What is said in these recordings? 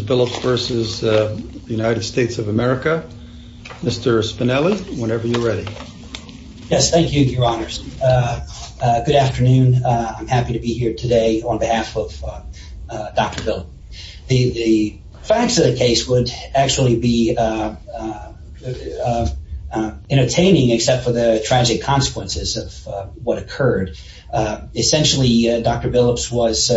Billups v. United States of America. Mr. Spinelli, whenever you're ready. Yes, thank you, Your Honors. Good afternoon. I'm happy to be here today on behalf of Dr. Billups. The facts of the case would actually be entertaining, except for the tragic consequences of what occurred. Essentially, Dr. Billups was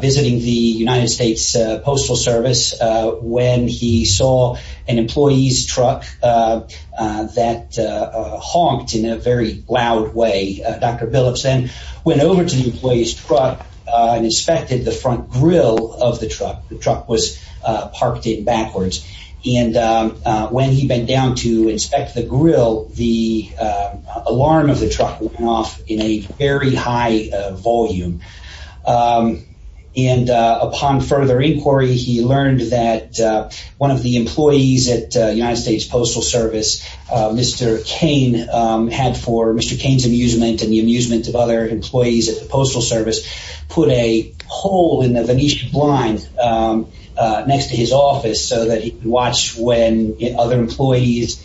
visiting the United States Postal Service when he saw an employee's truck that honked in a very loud way. Dr. Billups then went over to the employee's truck and inspected the front grill of the truck. The truck was parked in backwards, and when he bent down to inspect the grill, the alarm of the truck went off in a very high volume. Upon further inquiry, he learned that one of the employees at the United States Postal Service, Mr. Cain, had for Mr. Cain's amusement and the amusement of other employees at the Postal Service, put a hole in the Venetian blind next to his office so that he could watch when other employees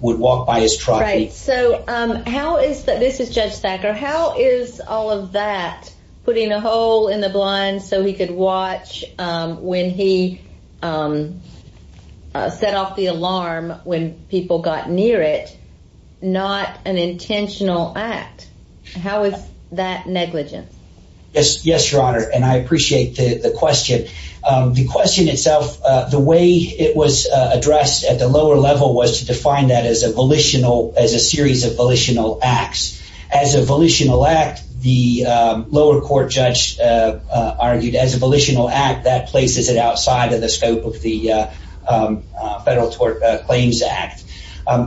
would walk by his truck. So how is that, this is Judge Thacker, how is all of that, putting a hole in the blind so he could watch when he set off the alarm when people got near it, not an intentional act? How is that negligent? Yes, yes, Your Honor, and I appreciate the question. The question itself, the way it was addressed at the lower level was to define that as a volitional, as a series of volitional acts. As a volitional act, the lower court judge argued as a volitional act that places it outside of the scope of the Federal Tort Claims Act.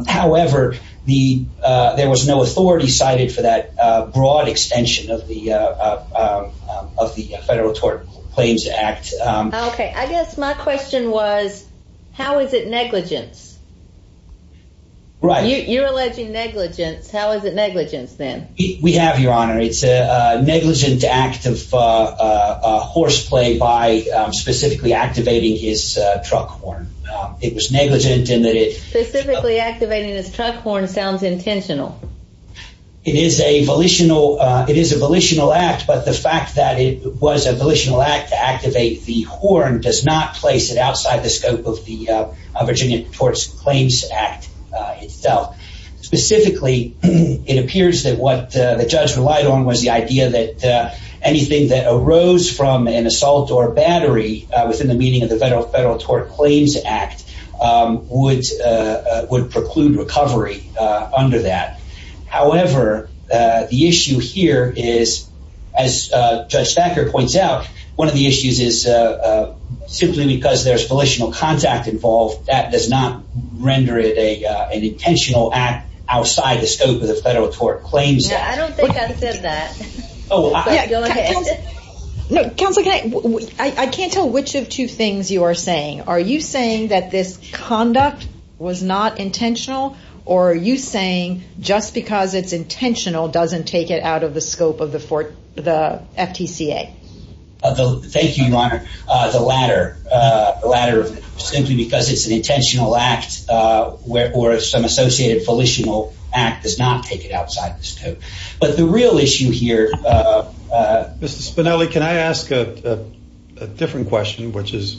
However, the, there was no authority cited for that broad extension of the, of the Federal Tort Claims Act. Okay, I guess my question was, how is it negligence? Right. You're alleging negligence, how is it negligence then? We have, Your Honor, it's a negligent act of horseplay by specifically activating his truck horn. It was negligent in that it... Specifically activating his truck horn sounds intentional. It is a volitional, it is a volitional act, but the fact that it was a volitional act to activate the horn does not place it outside the scope of the Virginia Tort Claims Act itself. Specifically, it appears that what the judge relied on was the idea that anything that arose from an assault or battery within the meaning of the Federal Tort Claims Act would preclude recovery under that. However, the one of the issues is simply because there's volitional contact involved, that does not render it a, an intentional act outside the scope of the Federal Tort Claims Act. I don't think I said that. Oh, yeah. No, Counselor, I can't tell which of two things you are saying. Are you saying that this conduct was not intentional? Or are you saying just because it's intentional doesn't take it out of the scope of the Fort, the FTCA? Thank you, Your Honor. The latter, the latter, simply because it's an intentional act or some associated volitional act does not take it outside the scope. But the real issue here... Mr. Spinelli, can I ask a different question, which is,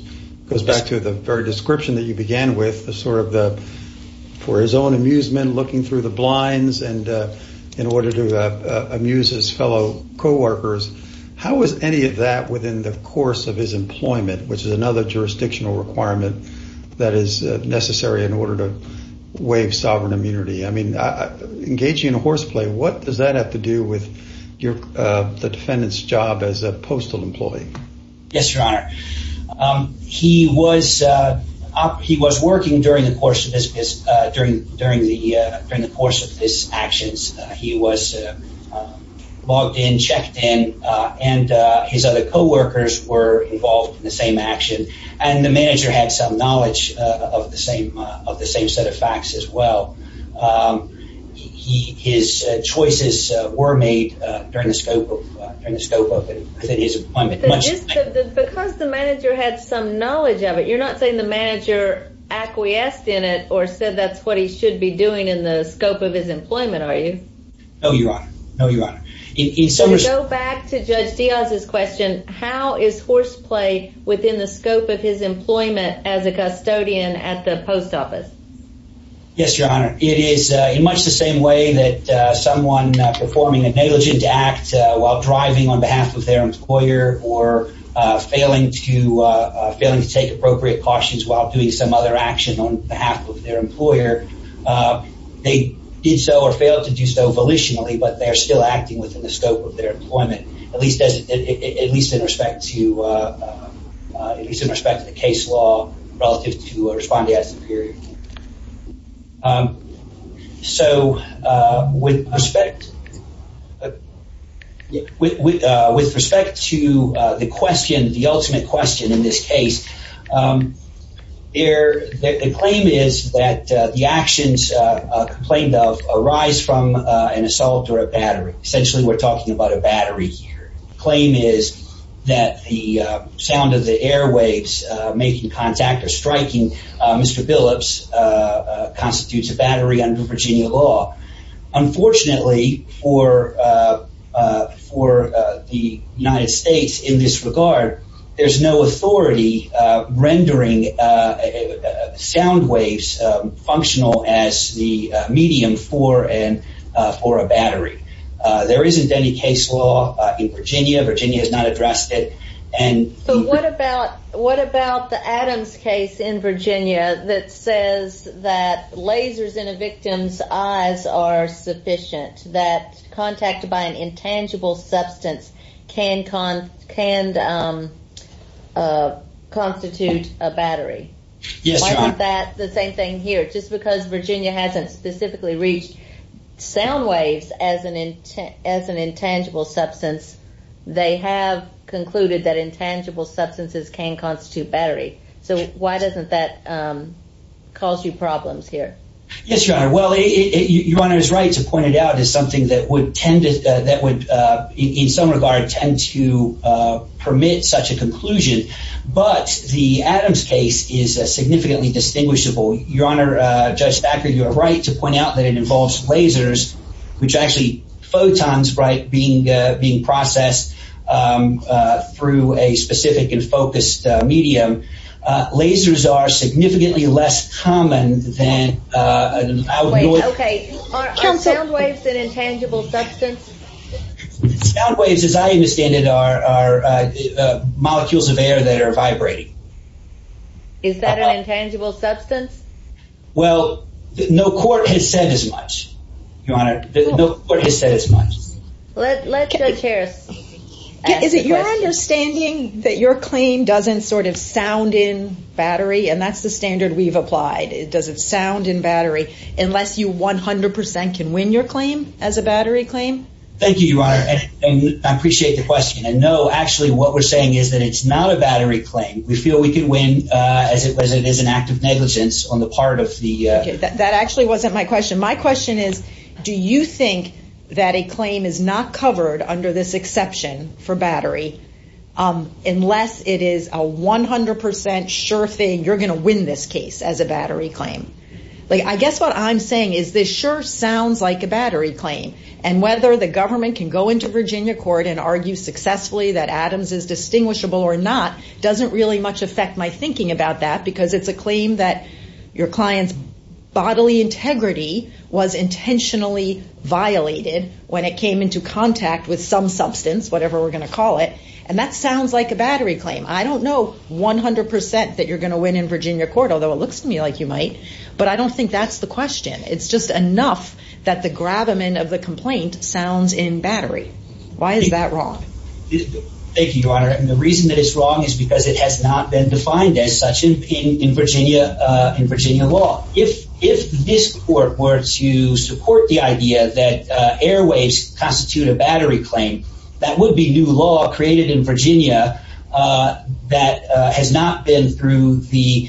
goes back to the very description that you began with, the sort of the, for his own amusement, looking through the blinds and in order to amuse his fellow co-workers, how was any of that within the course of his employment, which is another jurisdictional requirement that is necessary in order to waive sovereign immunity? I mean, engaging in a horseplay, what does that have to do with your, the defendant's job as a postal employee? Yes, Your Honor. He was, he was working during the course of this, during, during the, during the course of his actions. He was logged in, checked in, and his other co-workers were involved in the same action. And the manager had some knowledge of the same, of the same set of facts as well. His choices were made during the scope of, during the scope of his employment. But just because the manager had some knowledge of it, you're not saying the manager acquiesced in it or said that's what he should be doing in the scope of his employment, are you? No, Your Honor. No, Your Honor. In summary, To go back to Judge Diaz's question, how is horseplay within the scope of his employment as a custodian at the post office? Yes, Your Honor. It is in much the same way that someone performing a negligent act while driving on behalf of their employer or failing to, failing to take appropriate cautions while doing some other action on behalf of their employer. So volitionally, but they're still acting within the scope of their employment, at least as, at least in respect to, at least in respect to the case law relative to Respondee at Superior. So, with respect, with respect to the question, the ultimate question in this case is whether it's an assault or a battery. Essentially, we're talking about a battery here. Claim is that the sound of the airwaves making contact or striking Mr. Billups constitutes a battery under Virginia law. Unfortunately for, for the United States in this regard, there's no authority rendering sound waves functional as the medium for, for a battery. There isn't any case law in Virginia. Virginia has not addressed it. And so what about, what about the Adams case in Virginia that says that lasers in a victim's eyes are sufficient, that contact by an intangible substance can constitute a battery? Yes, Your Honor. Why isn't that the same thing here? Just because Virginia hasn't specifically reached sound waves as an, as an intangible substance, they have concluded that intangible substances can constitute battery. So why doesn't that cause you problems here? Yes, Your Honor. Well, Your Honor is right to point it out as something that would tend to, that would tend to permit such a conclusion. But the Adams case is a significantly distinguishable. Your Honor, Judge Thacker, you're right to point out that it involves lasers, which actually photons, right, being, being processed through a specific and focused medium. Lasers are significantly less common than... Okay, are sound waves an intangible substance? Sound waves, as I understand it, are molecules of air that are vibrating. Is that an intangible substance? Well, no court has said as much, Your Honor. No court has said as much. Let Judge Harris... Is it your understanding that your claim doesn't sort of sound in battery? And that's the standard we've applied. It doesn't sound in battery, unless you 100% can win your claim as a battery claim. Thank you, Your Honor. And I appreciate the question. And no, actually, what we're saying is that it's not a battery claim. We feel we could win as it was, it is an act of negligence on the part of the... That actually wasn't my question. My question is, do you think that a claim is not covered under this exception for battery? Unless it is a 100% sure thing, you're going to win this case as a battery claim. Like, I guess what I'm saying is, this sure sounds like a battery claim. And whether the government can go into Virginia court and argue successfully that Adams is distinguishable or not, doesn't really much affect my thinking about that, because it's a claim that your client's bodily integrity was intentionally violated when it came into contact with some substance, whatever we're gonna call it. And that sounds like a battery claim. I don't know 100% that you're gonna win in Virginia court, although it looks to me like you might, but I don't think that's the question. It's just enough that the grab-a-men of the complaint sounds in battery. Why is that wrong? Thank you, Your Honor. And the reason that it's wrong is because it has not been defined as such in Virginia law. If this court were to support the idea that airwaves constitute a battery claim, that would be new law created in Virginia that has not been through the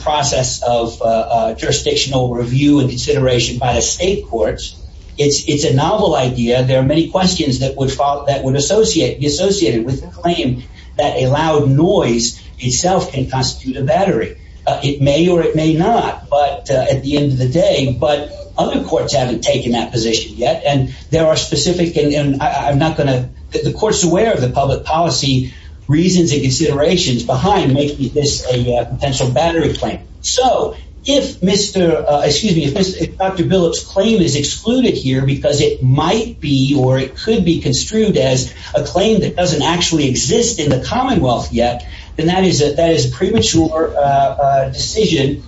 process of jurisdictional review and consideration by the state courts, it's it's a novel idea. There are many questions that would follow, that would associate, be associated with the claim that a loud noise itself can constitute a battery. It may or it may not, but at the end of the day, but other courts haven't taken that position yet. And there are specific, and I'm not gonna, the court's aware of the public policy reasons and considerations behind making this a potential battery claim. So if Mr., excuse me, if Dr. Billup's claim is excluded here because it might be or it could be construed as a claim that doesn't actually exist in the Commonwealth yet, then that is that is a premature decision.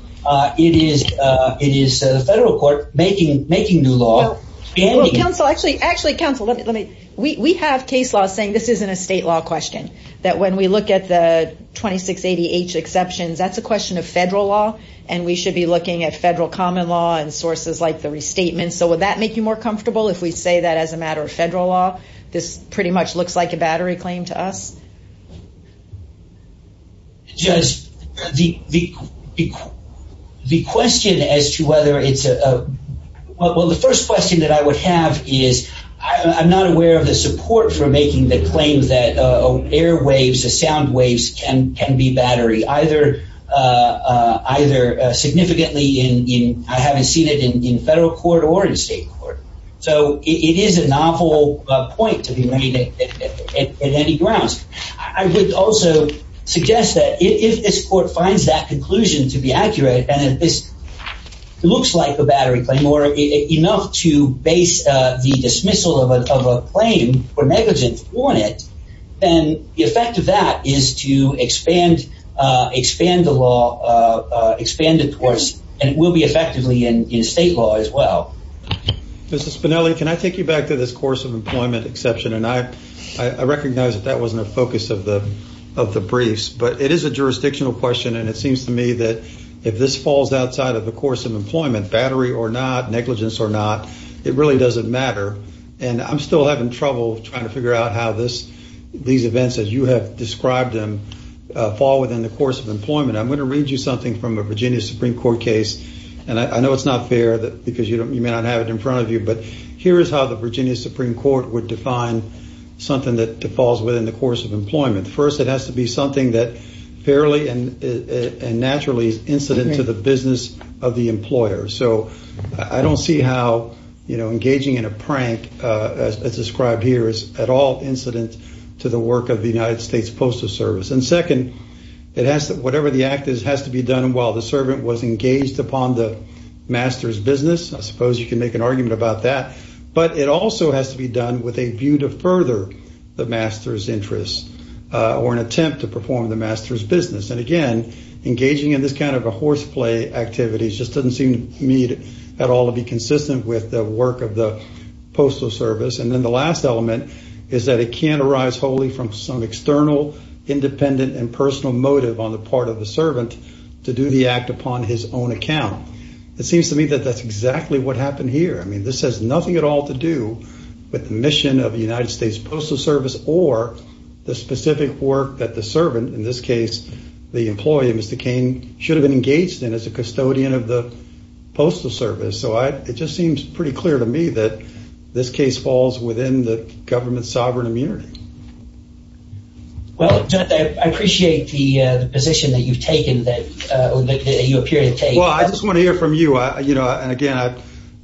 It is, it is the federal court making, making new law. Counsel, actually, actually counsel, let me, we have case law saying this isn't a exception. That's a question of federal law. And we should be looking at federal common law and sources like the restatement. So would that make you more comfortable if we say that as a matter of federal law, this pretty much looks like a battery claim to us? Judge, the, the question as to whether it's a, well, the first question that I would have is, I'm not aware of the support for making the claims that airwaves, the sound waves can, can be battery either, either significantly in, in, I haven't seen it in federal court or in state court. So it is an awful point to be made at any grounds. I would also suggest that if this court finds that conclusion to be accurate, and if this looks like a battery claim or enough to base the dismissal of a, of a claim for negligence on it, then the effect of that is to expand, expand the law, expand it towards, and it will be effectively in, in state law as well. Mrs. Spinelli, can I take you back to this course of employment exception? And I, I recognize that that wasn't a focus of the, of the briefs, but it is a jurisdictional question. And it seems to me that if this falls outside of the course of employment, battery or not, negligence or not, it really doesn't matter. And I'm still having trouble trying to figure out how this, these events, as you have described them, fall within the course of employment. I'm going to read you something from a Virginia Supreme Court case. And I know it's not fair that because you don't, you may not have it in front of you, but here is how the Virginia Supreme Court would define something that falls within the course of employment. First, it has to be something that fairly and, and is a business of the employer. So I don't see how, you know, engaging in a prank as described here is at all incident to the work of the United States Postal Service. And second, it has to, whatever the act is, has to be done while the servant was engaged upon the master's business. I suppose you can make an argument about that, but it also has to be done with a view to further the master's interests or an attempt to perform the master's business. And again, engaging in this kind of a horseplay activity just doesn't seem to me at all to be consistent with the work of the Postal Service. And then the last element is that it can arise wholly from some external, independent, and personal motive on the part of the servant to do the act upon his own account. It seems to me that that's exactly what happened here. I mean, this has nothing at all to do with the mission of the United States Postal Service or the specific work that the servant, in this case, the employee, Mr. Kane, should have been engaged in as a custodian of the Postal Service. So it just seems pretty clear to me that this case falls within the government's sovereign immunity. Well, I appreciate the position that you've taken, that you appear to take. Well, I just want to hear from you. You know, and again,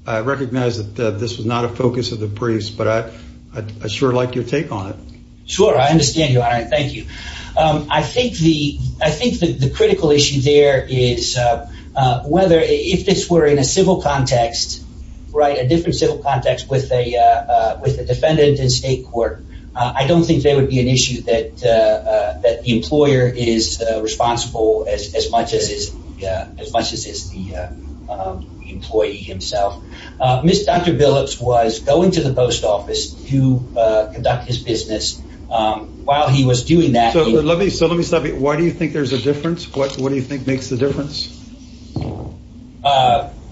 I recognize that this was not a focus of the briefs, but I sure like your take on it. Sure, I understand, Your Honor, and thank you. I think the critical issue there is whether, if this were in a civil context, right, a different civil context with a defendant in state court, I don't think there would be an issue that the employer is responsible as much as the employee himself. Ms. Dr. Phillips was going to the post office to conduct his business while he was doing that. So let me, so let me stop you. Why do you think there's a difference? What do you think makes the difference?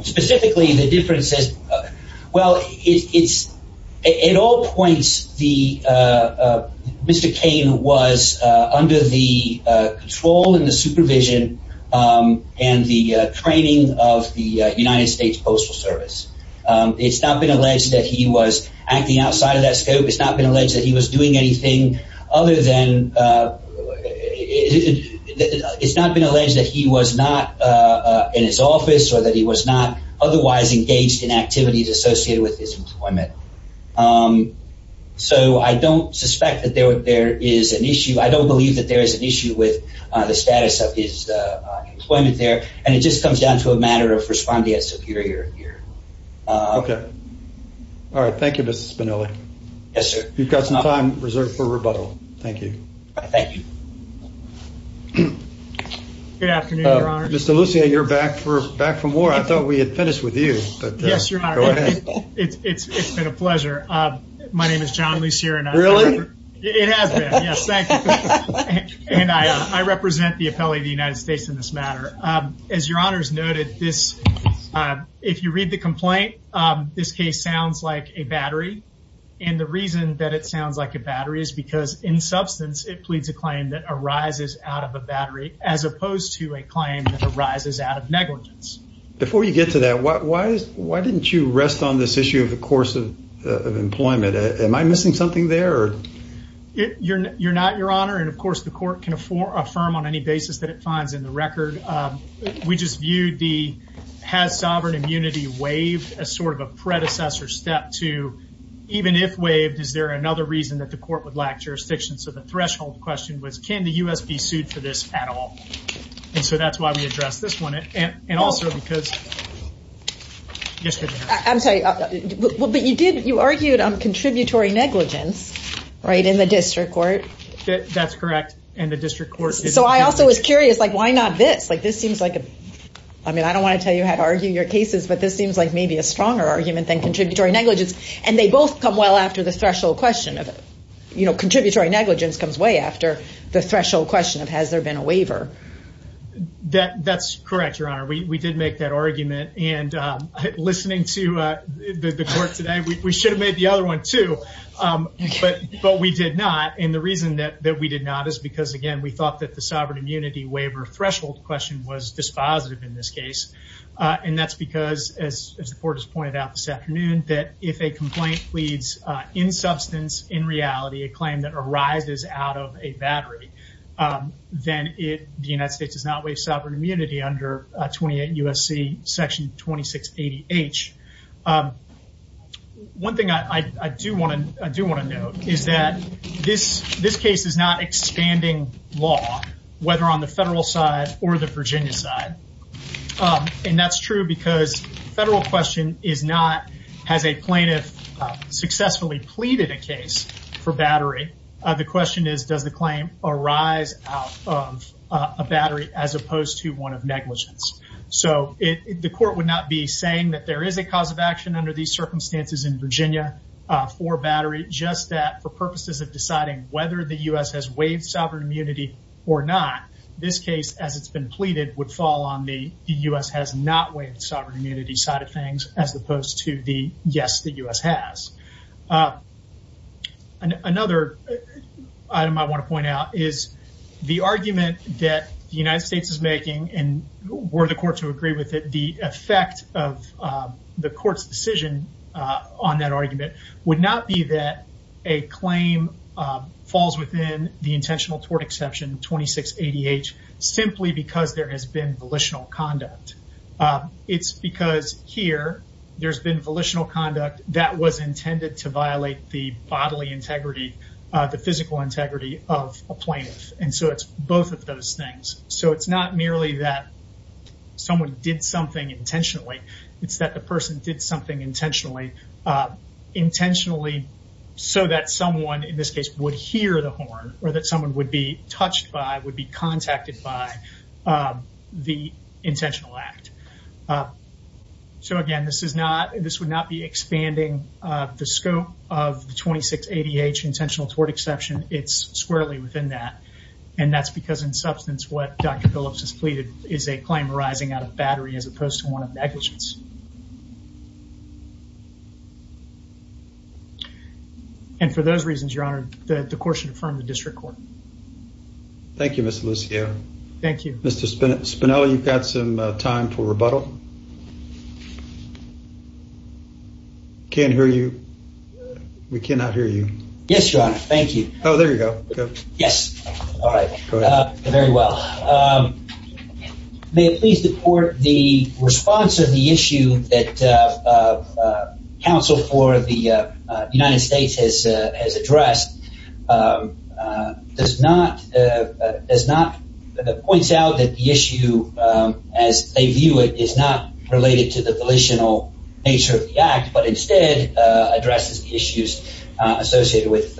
Specifically, the difference is, well, it's, at all points, Mr. Kane was under the control and the supervision and the training of the United States Postal Service. It's not been alleged that he was acting outside of that scope. It's not been alleged that he was doing anything other than, it's not been alleged that he was not in his office or that he was not otherwise engaged in activities associated with his employment. So I don't suspect that there is an issue. I don't believe that there is an issue with the status of his employment there. And it just comes down to a matter of responding as Okay. All right. Thank you, Mr. Spinelli. Yes, sir. You've got some time reserved for rebuttal. Thank you. Thank you. Good afternoon, Your Honor. Mr. Lucia, you're back for back from war. I thought we had finished with you. Yes, Your Honor. It's been a pleasure. My name is John Lucia and I represent the appellee of the United States in this matter. As Your Honor's noted this, if you read the complaint, this case sounds like a battery. And the reason that it sounds like a battery is because, in substance, it pleads a claim that arises out of a battery as opposed to a claim that arises out of negligence. Before you get to that, why didn't you rest on this issue of the course of employment? Am I missing something there? You're not, Your Honor. And of course, the court can affirm on any basis that it finds in the record. We just viewed the has sovereign immunity waived as sort of a predecessor step to, even if waived, is there another reason that the court would lack jurisdiction? So the threshold question was, can the US be sued for this at all? And so that's why we address this one. And also, because I'm sorry, but you did you argued on contributory negligence, right in the is like, why not this? Like, this seems like, I mean, I don't want to tell you how to argue your cases. But this seems like maybe a stronger argument than contributory negligence. And they both come well after the threshold question of, you know, contributory negligence comes way after the threshold question of, has there been a waiver? That's correct, Your Honor. We did make that argument. And listening to the court today, we should have made the other one too. But we did not. And the reason that we did not is because, again, we thought that the sovereign immunity waiver threshold question was dispositive in this case. And that's because, as the court has pointed out this afternoon, that if a complaint pleads in substance, in reality, a claim that arises out of a battery, then the United States does not waive sovereign immunity under 28 U.S.C. Section 2680-H. One thing I do want to note is that this case is not expanding law, whether on the federal side or the Virginia side. And that's true because federal question is not, has a plaintiff successfully pleaded a case for battery? The question is, does the claim arise out of a battery as opposed to one of negligence? So the court would not be saying that there is a cause of action under these circumstances in Virginia for battery, just that for purposes of or not. This case, as it's been pleaded, would fall on the U.S. has not waived sovereign immunity side of things, as opposed to the yes, the U.S. has. Another item I want to point out is the argument that the United States is making, and were the court to agree with it, the effect of the court's decision on that argument would not be that a claim falls within the intentional tort exception 2680-H, simply because there has been volitional conduct. It's because here there's been volitional conduct that was intended to violate the bodily integrity, the physical integrity of a plaintiff. And so it's both of those things. So it's not merely that someone did something intentionally. It's that the person did something intentionally, intentionally so that someone in this case would hear the horn or that someone would be touched by, would be contacted by the intentional act. So again, this is not, this would not be expanding the scope of the 2680-H intentional tort exception. It's squarely within that. And that's because in substance, what Dr. Phillips has pleaded is a claim arising out of battery as opposed to one of negligence. And for those reasons, Your Honor, the court should affirm the district court. Thank you, Mr. Lucio. Thank you. Mr. Spinelli, you've got some time for rebuttal. Can't hear you. We cannot hear you. Yes, Your Honor. Thank you. Oh, there you go. Yes. All right. Very well. May it please the court, the response of the issue that counsel for the United States has addressed does not, does not point out that the issue as they view it is not related to the volitional nature of the act, but instead addresses the issues associated with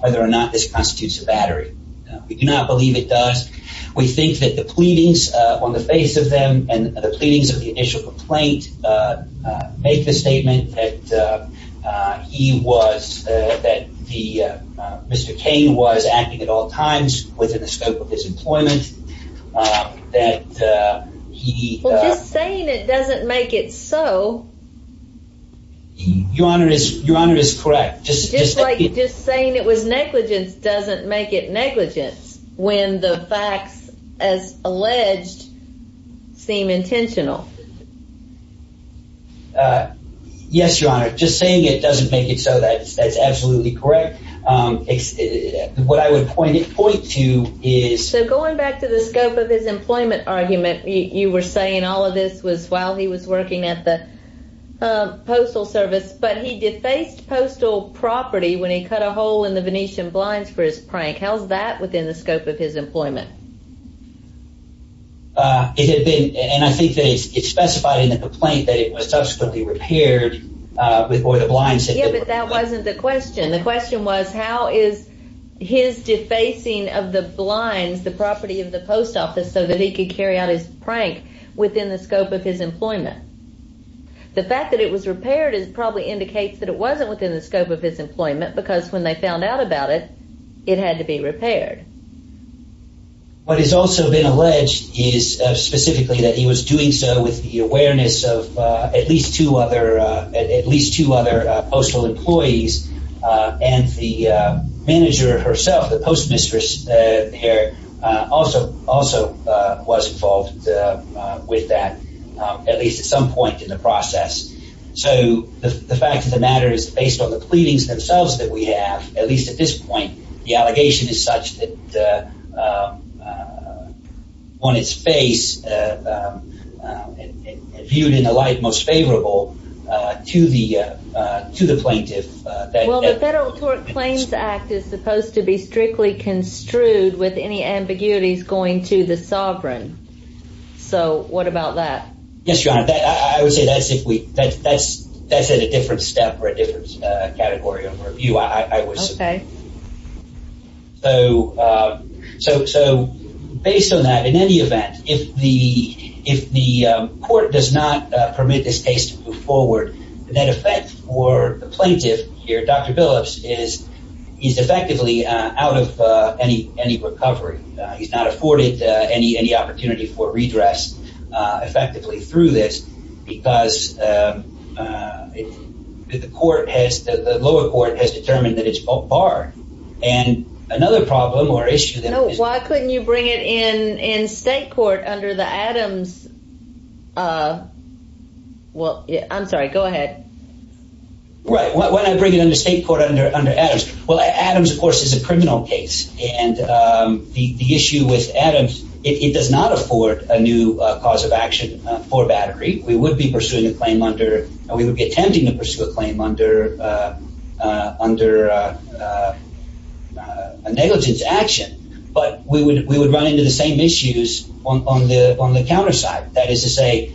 whether or not this constitutes a battery. We do not believe it does. We think that the pleadings on the face of them and the pleadings of the initial complaint, make the statement that he was, that the, Mr. Kane was acting at all times within the scope of his employment, that he... Well, just saying it doesn't make it so. Your Honor is, Your Honor is correct. Just like just saying it was negligence doesn't make it negligence. When the facts as alleged, seem intentional. Yes, Your Honor. Just saying it doesn't make it so that's absolutely correct. What I would point to is... So going back to the scope of his employment argument, you were saying all of this was while he was working at the postal service, but he defaced postal property when he cut a hole in the Venetian blinds for his prank. How's that within the scope of his employment? Is it been, and I think that it's specified in the complaint that it was subsequently repaired with, or the blinds... Yeah, but that wasn't the question. The question was, how is his defacing of the blinds, the property of the post office, so that he could carry out his prank within the scope of his employment? The fact that it was repaired is probably indicates that it wasn't within the scope of his employment, because when they found out about it, it had to be repaired. What has also been alleged is specifically that he was doing so with the awareness of at least two other, at least two other postal employees. And the manager herself, the postmistress here, also was involved with that, at least at some point in the process. So the fact of the matter is based on the fact, at least at this point, the allegation is such that on its face, viewed in the light most favorable to the, to the plaintiff. Well, the Federal Tort Claims Act is supposed to be strictly construed with any ambiguities going to the sovereign. So what about that? Yes, Your Honor, I would say that's if we, that's, that's a different step or different category of review, I would say. So, so, so based on that, in any event, if the, if the court does not permit this case to move forward, the net effect for the plaintiff here, Dr. Billups is, is effectively out of any, any recovery. He's not afforded any, any opportunity for redress effectively through this, because the court has, the lower court has determined that it's barred. And another problem or issue that... No, why couldn't you bring it in, in state court under the Adams? Well, I'm sorry, go ahead. Right, why don't I bring it in the state court under, under Adams? Well, Adams, of course, is a criminal case. And the issue with Adams, it does not afford a new cause of action for Battery. We would be pursuing a claim under, we would be attempting to pursue a claim under, under a negligence action. But we would, we would run into the same issues on the, on the counter side. That is to say,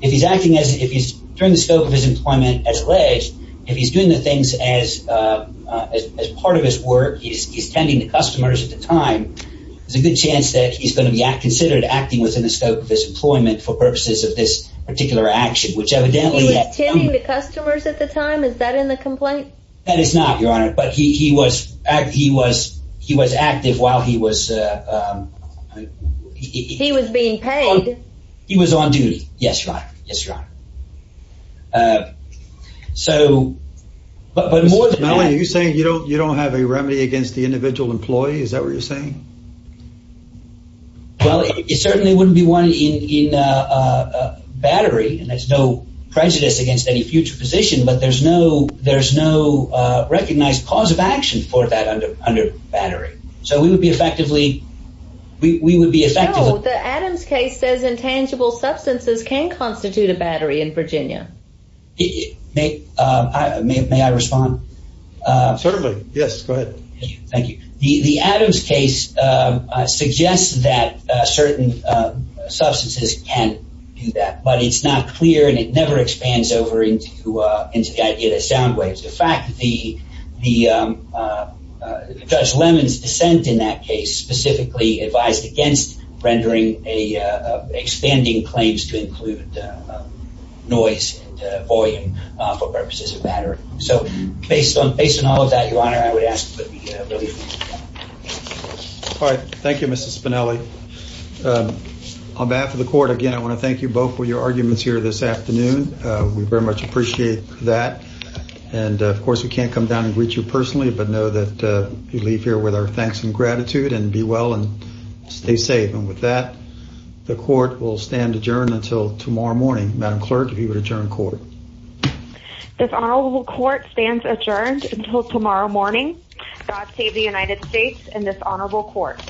if he's acting as, if he's, during the scope of his employment as alleged, if he's doing the things as, as part of his work, he's, he's tending to customers at the time, there's a good chance that he's going to be considered acting within the scope of this employment for purposes of this particular action, which He was tending to customers at the time? Is that in the complaint? That is not, Your Honor. But he was, he was, he was active while he was... He was being paid. He was on duty. Yes, Your Honor. Yes, Your Honor. So, but more than that... Mr. Mellon, are you saying you don't, you don't have a remedy against the individual employee? Is that what you're saying? Well, it certainly wouldn't be one in battery, and there's no prejudice against any future position, but there's no, there's no recognized cause of action for that under, under battery. So we would be effectively, we would be effective... No, the Adams case says intangible substances can constitute a battery in Virginia. May I respond? Certainly. Yes, go ahead. Thank you. The Adams case suggests that certain substances can do that, but it's not clear and it never expands over into, into the idea that sound waves. In fact, the, the Judge Lemon's dissent in that case specifically advised against rendering a, expanding claims to include noise and volume for purposes of battery. So based on, based on all of that, Your Honor, I would ask that we have a... All right. Thank you, Mr. Spinelli. On behalf of the court, again, I want to thank you both for your arguments here this afternoon. We very much appreciate that. And of course, we can't come down and greet you personally, but know that you leave here with our thanks and gratitude and be well and stay safe. And with that, the court will stand adjourned until tomorrow morning. Madam Clerk, if you would adjourn court. This honorable court stands adjourned until tomorrow morning. God save the United States and this honorable court.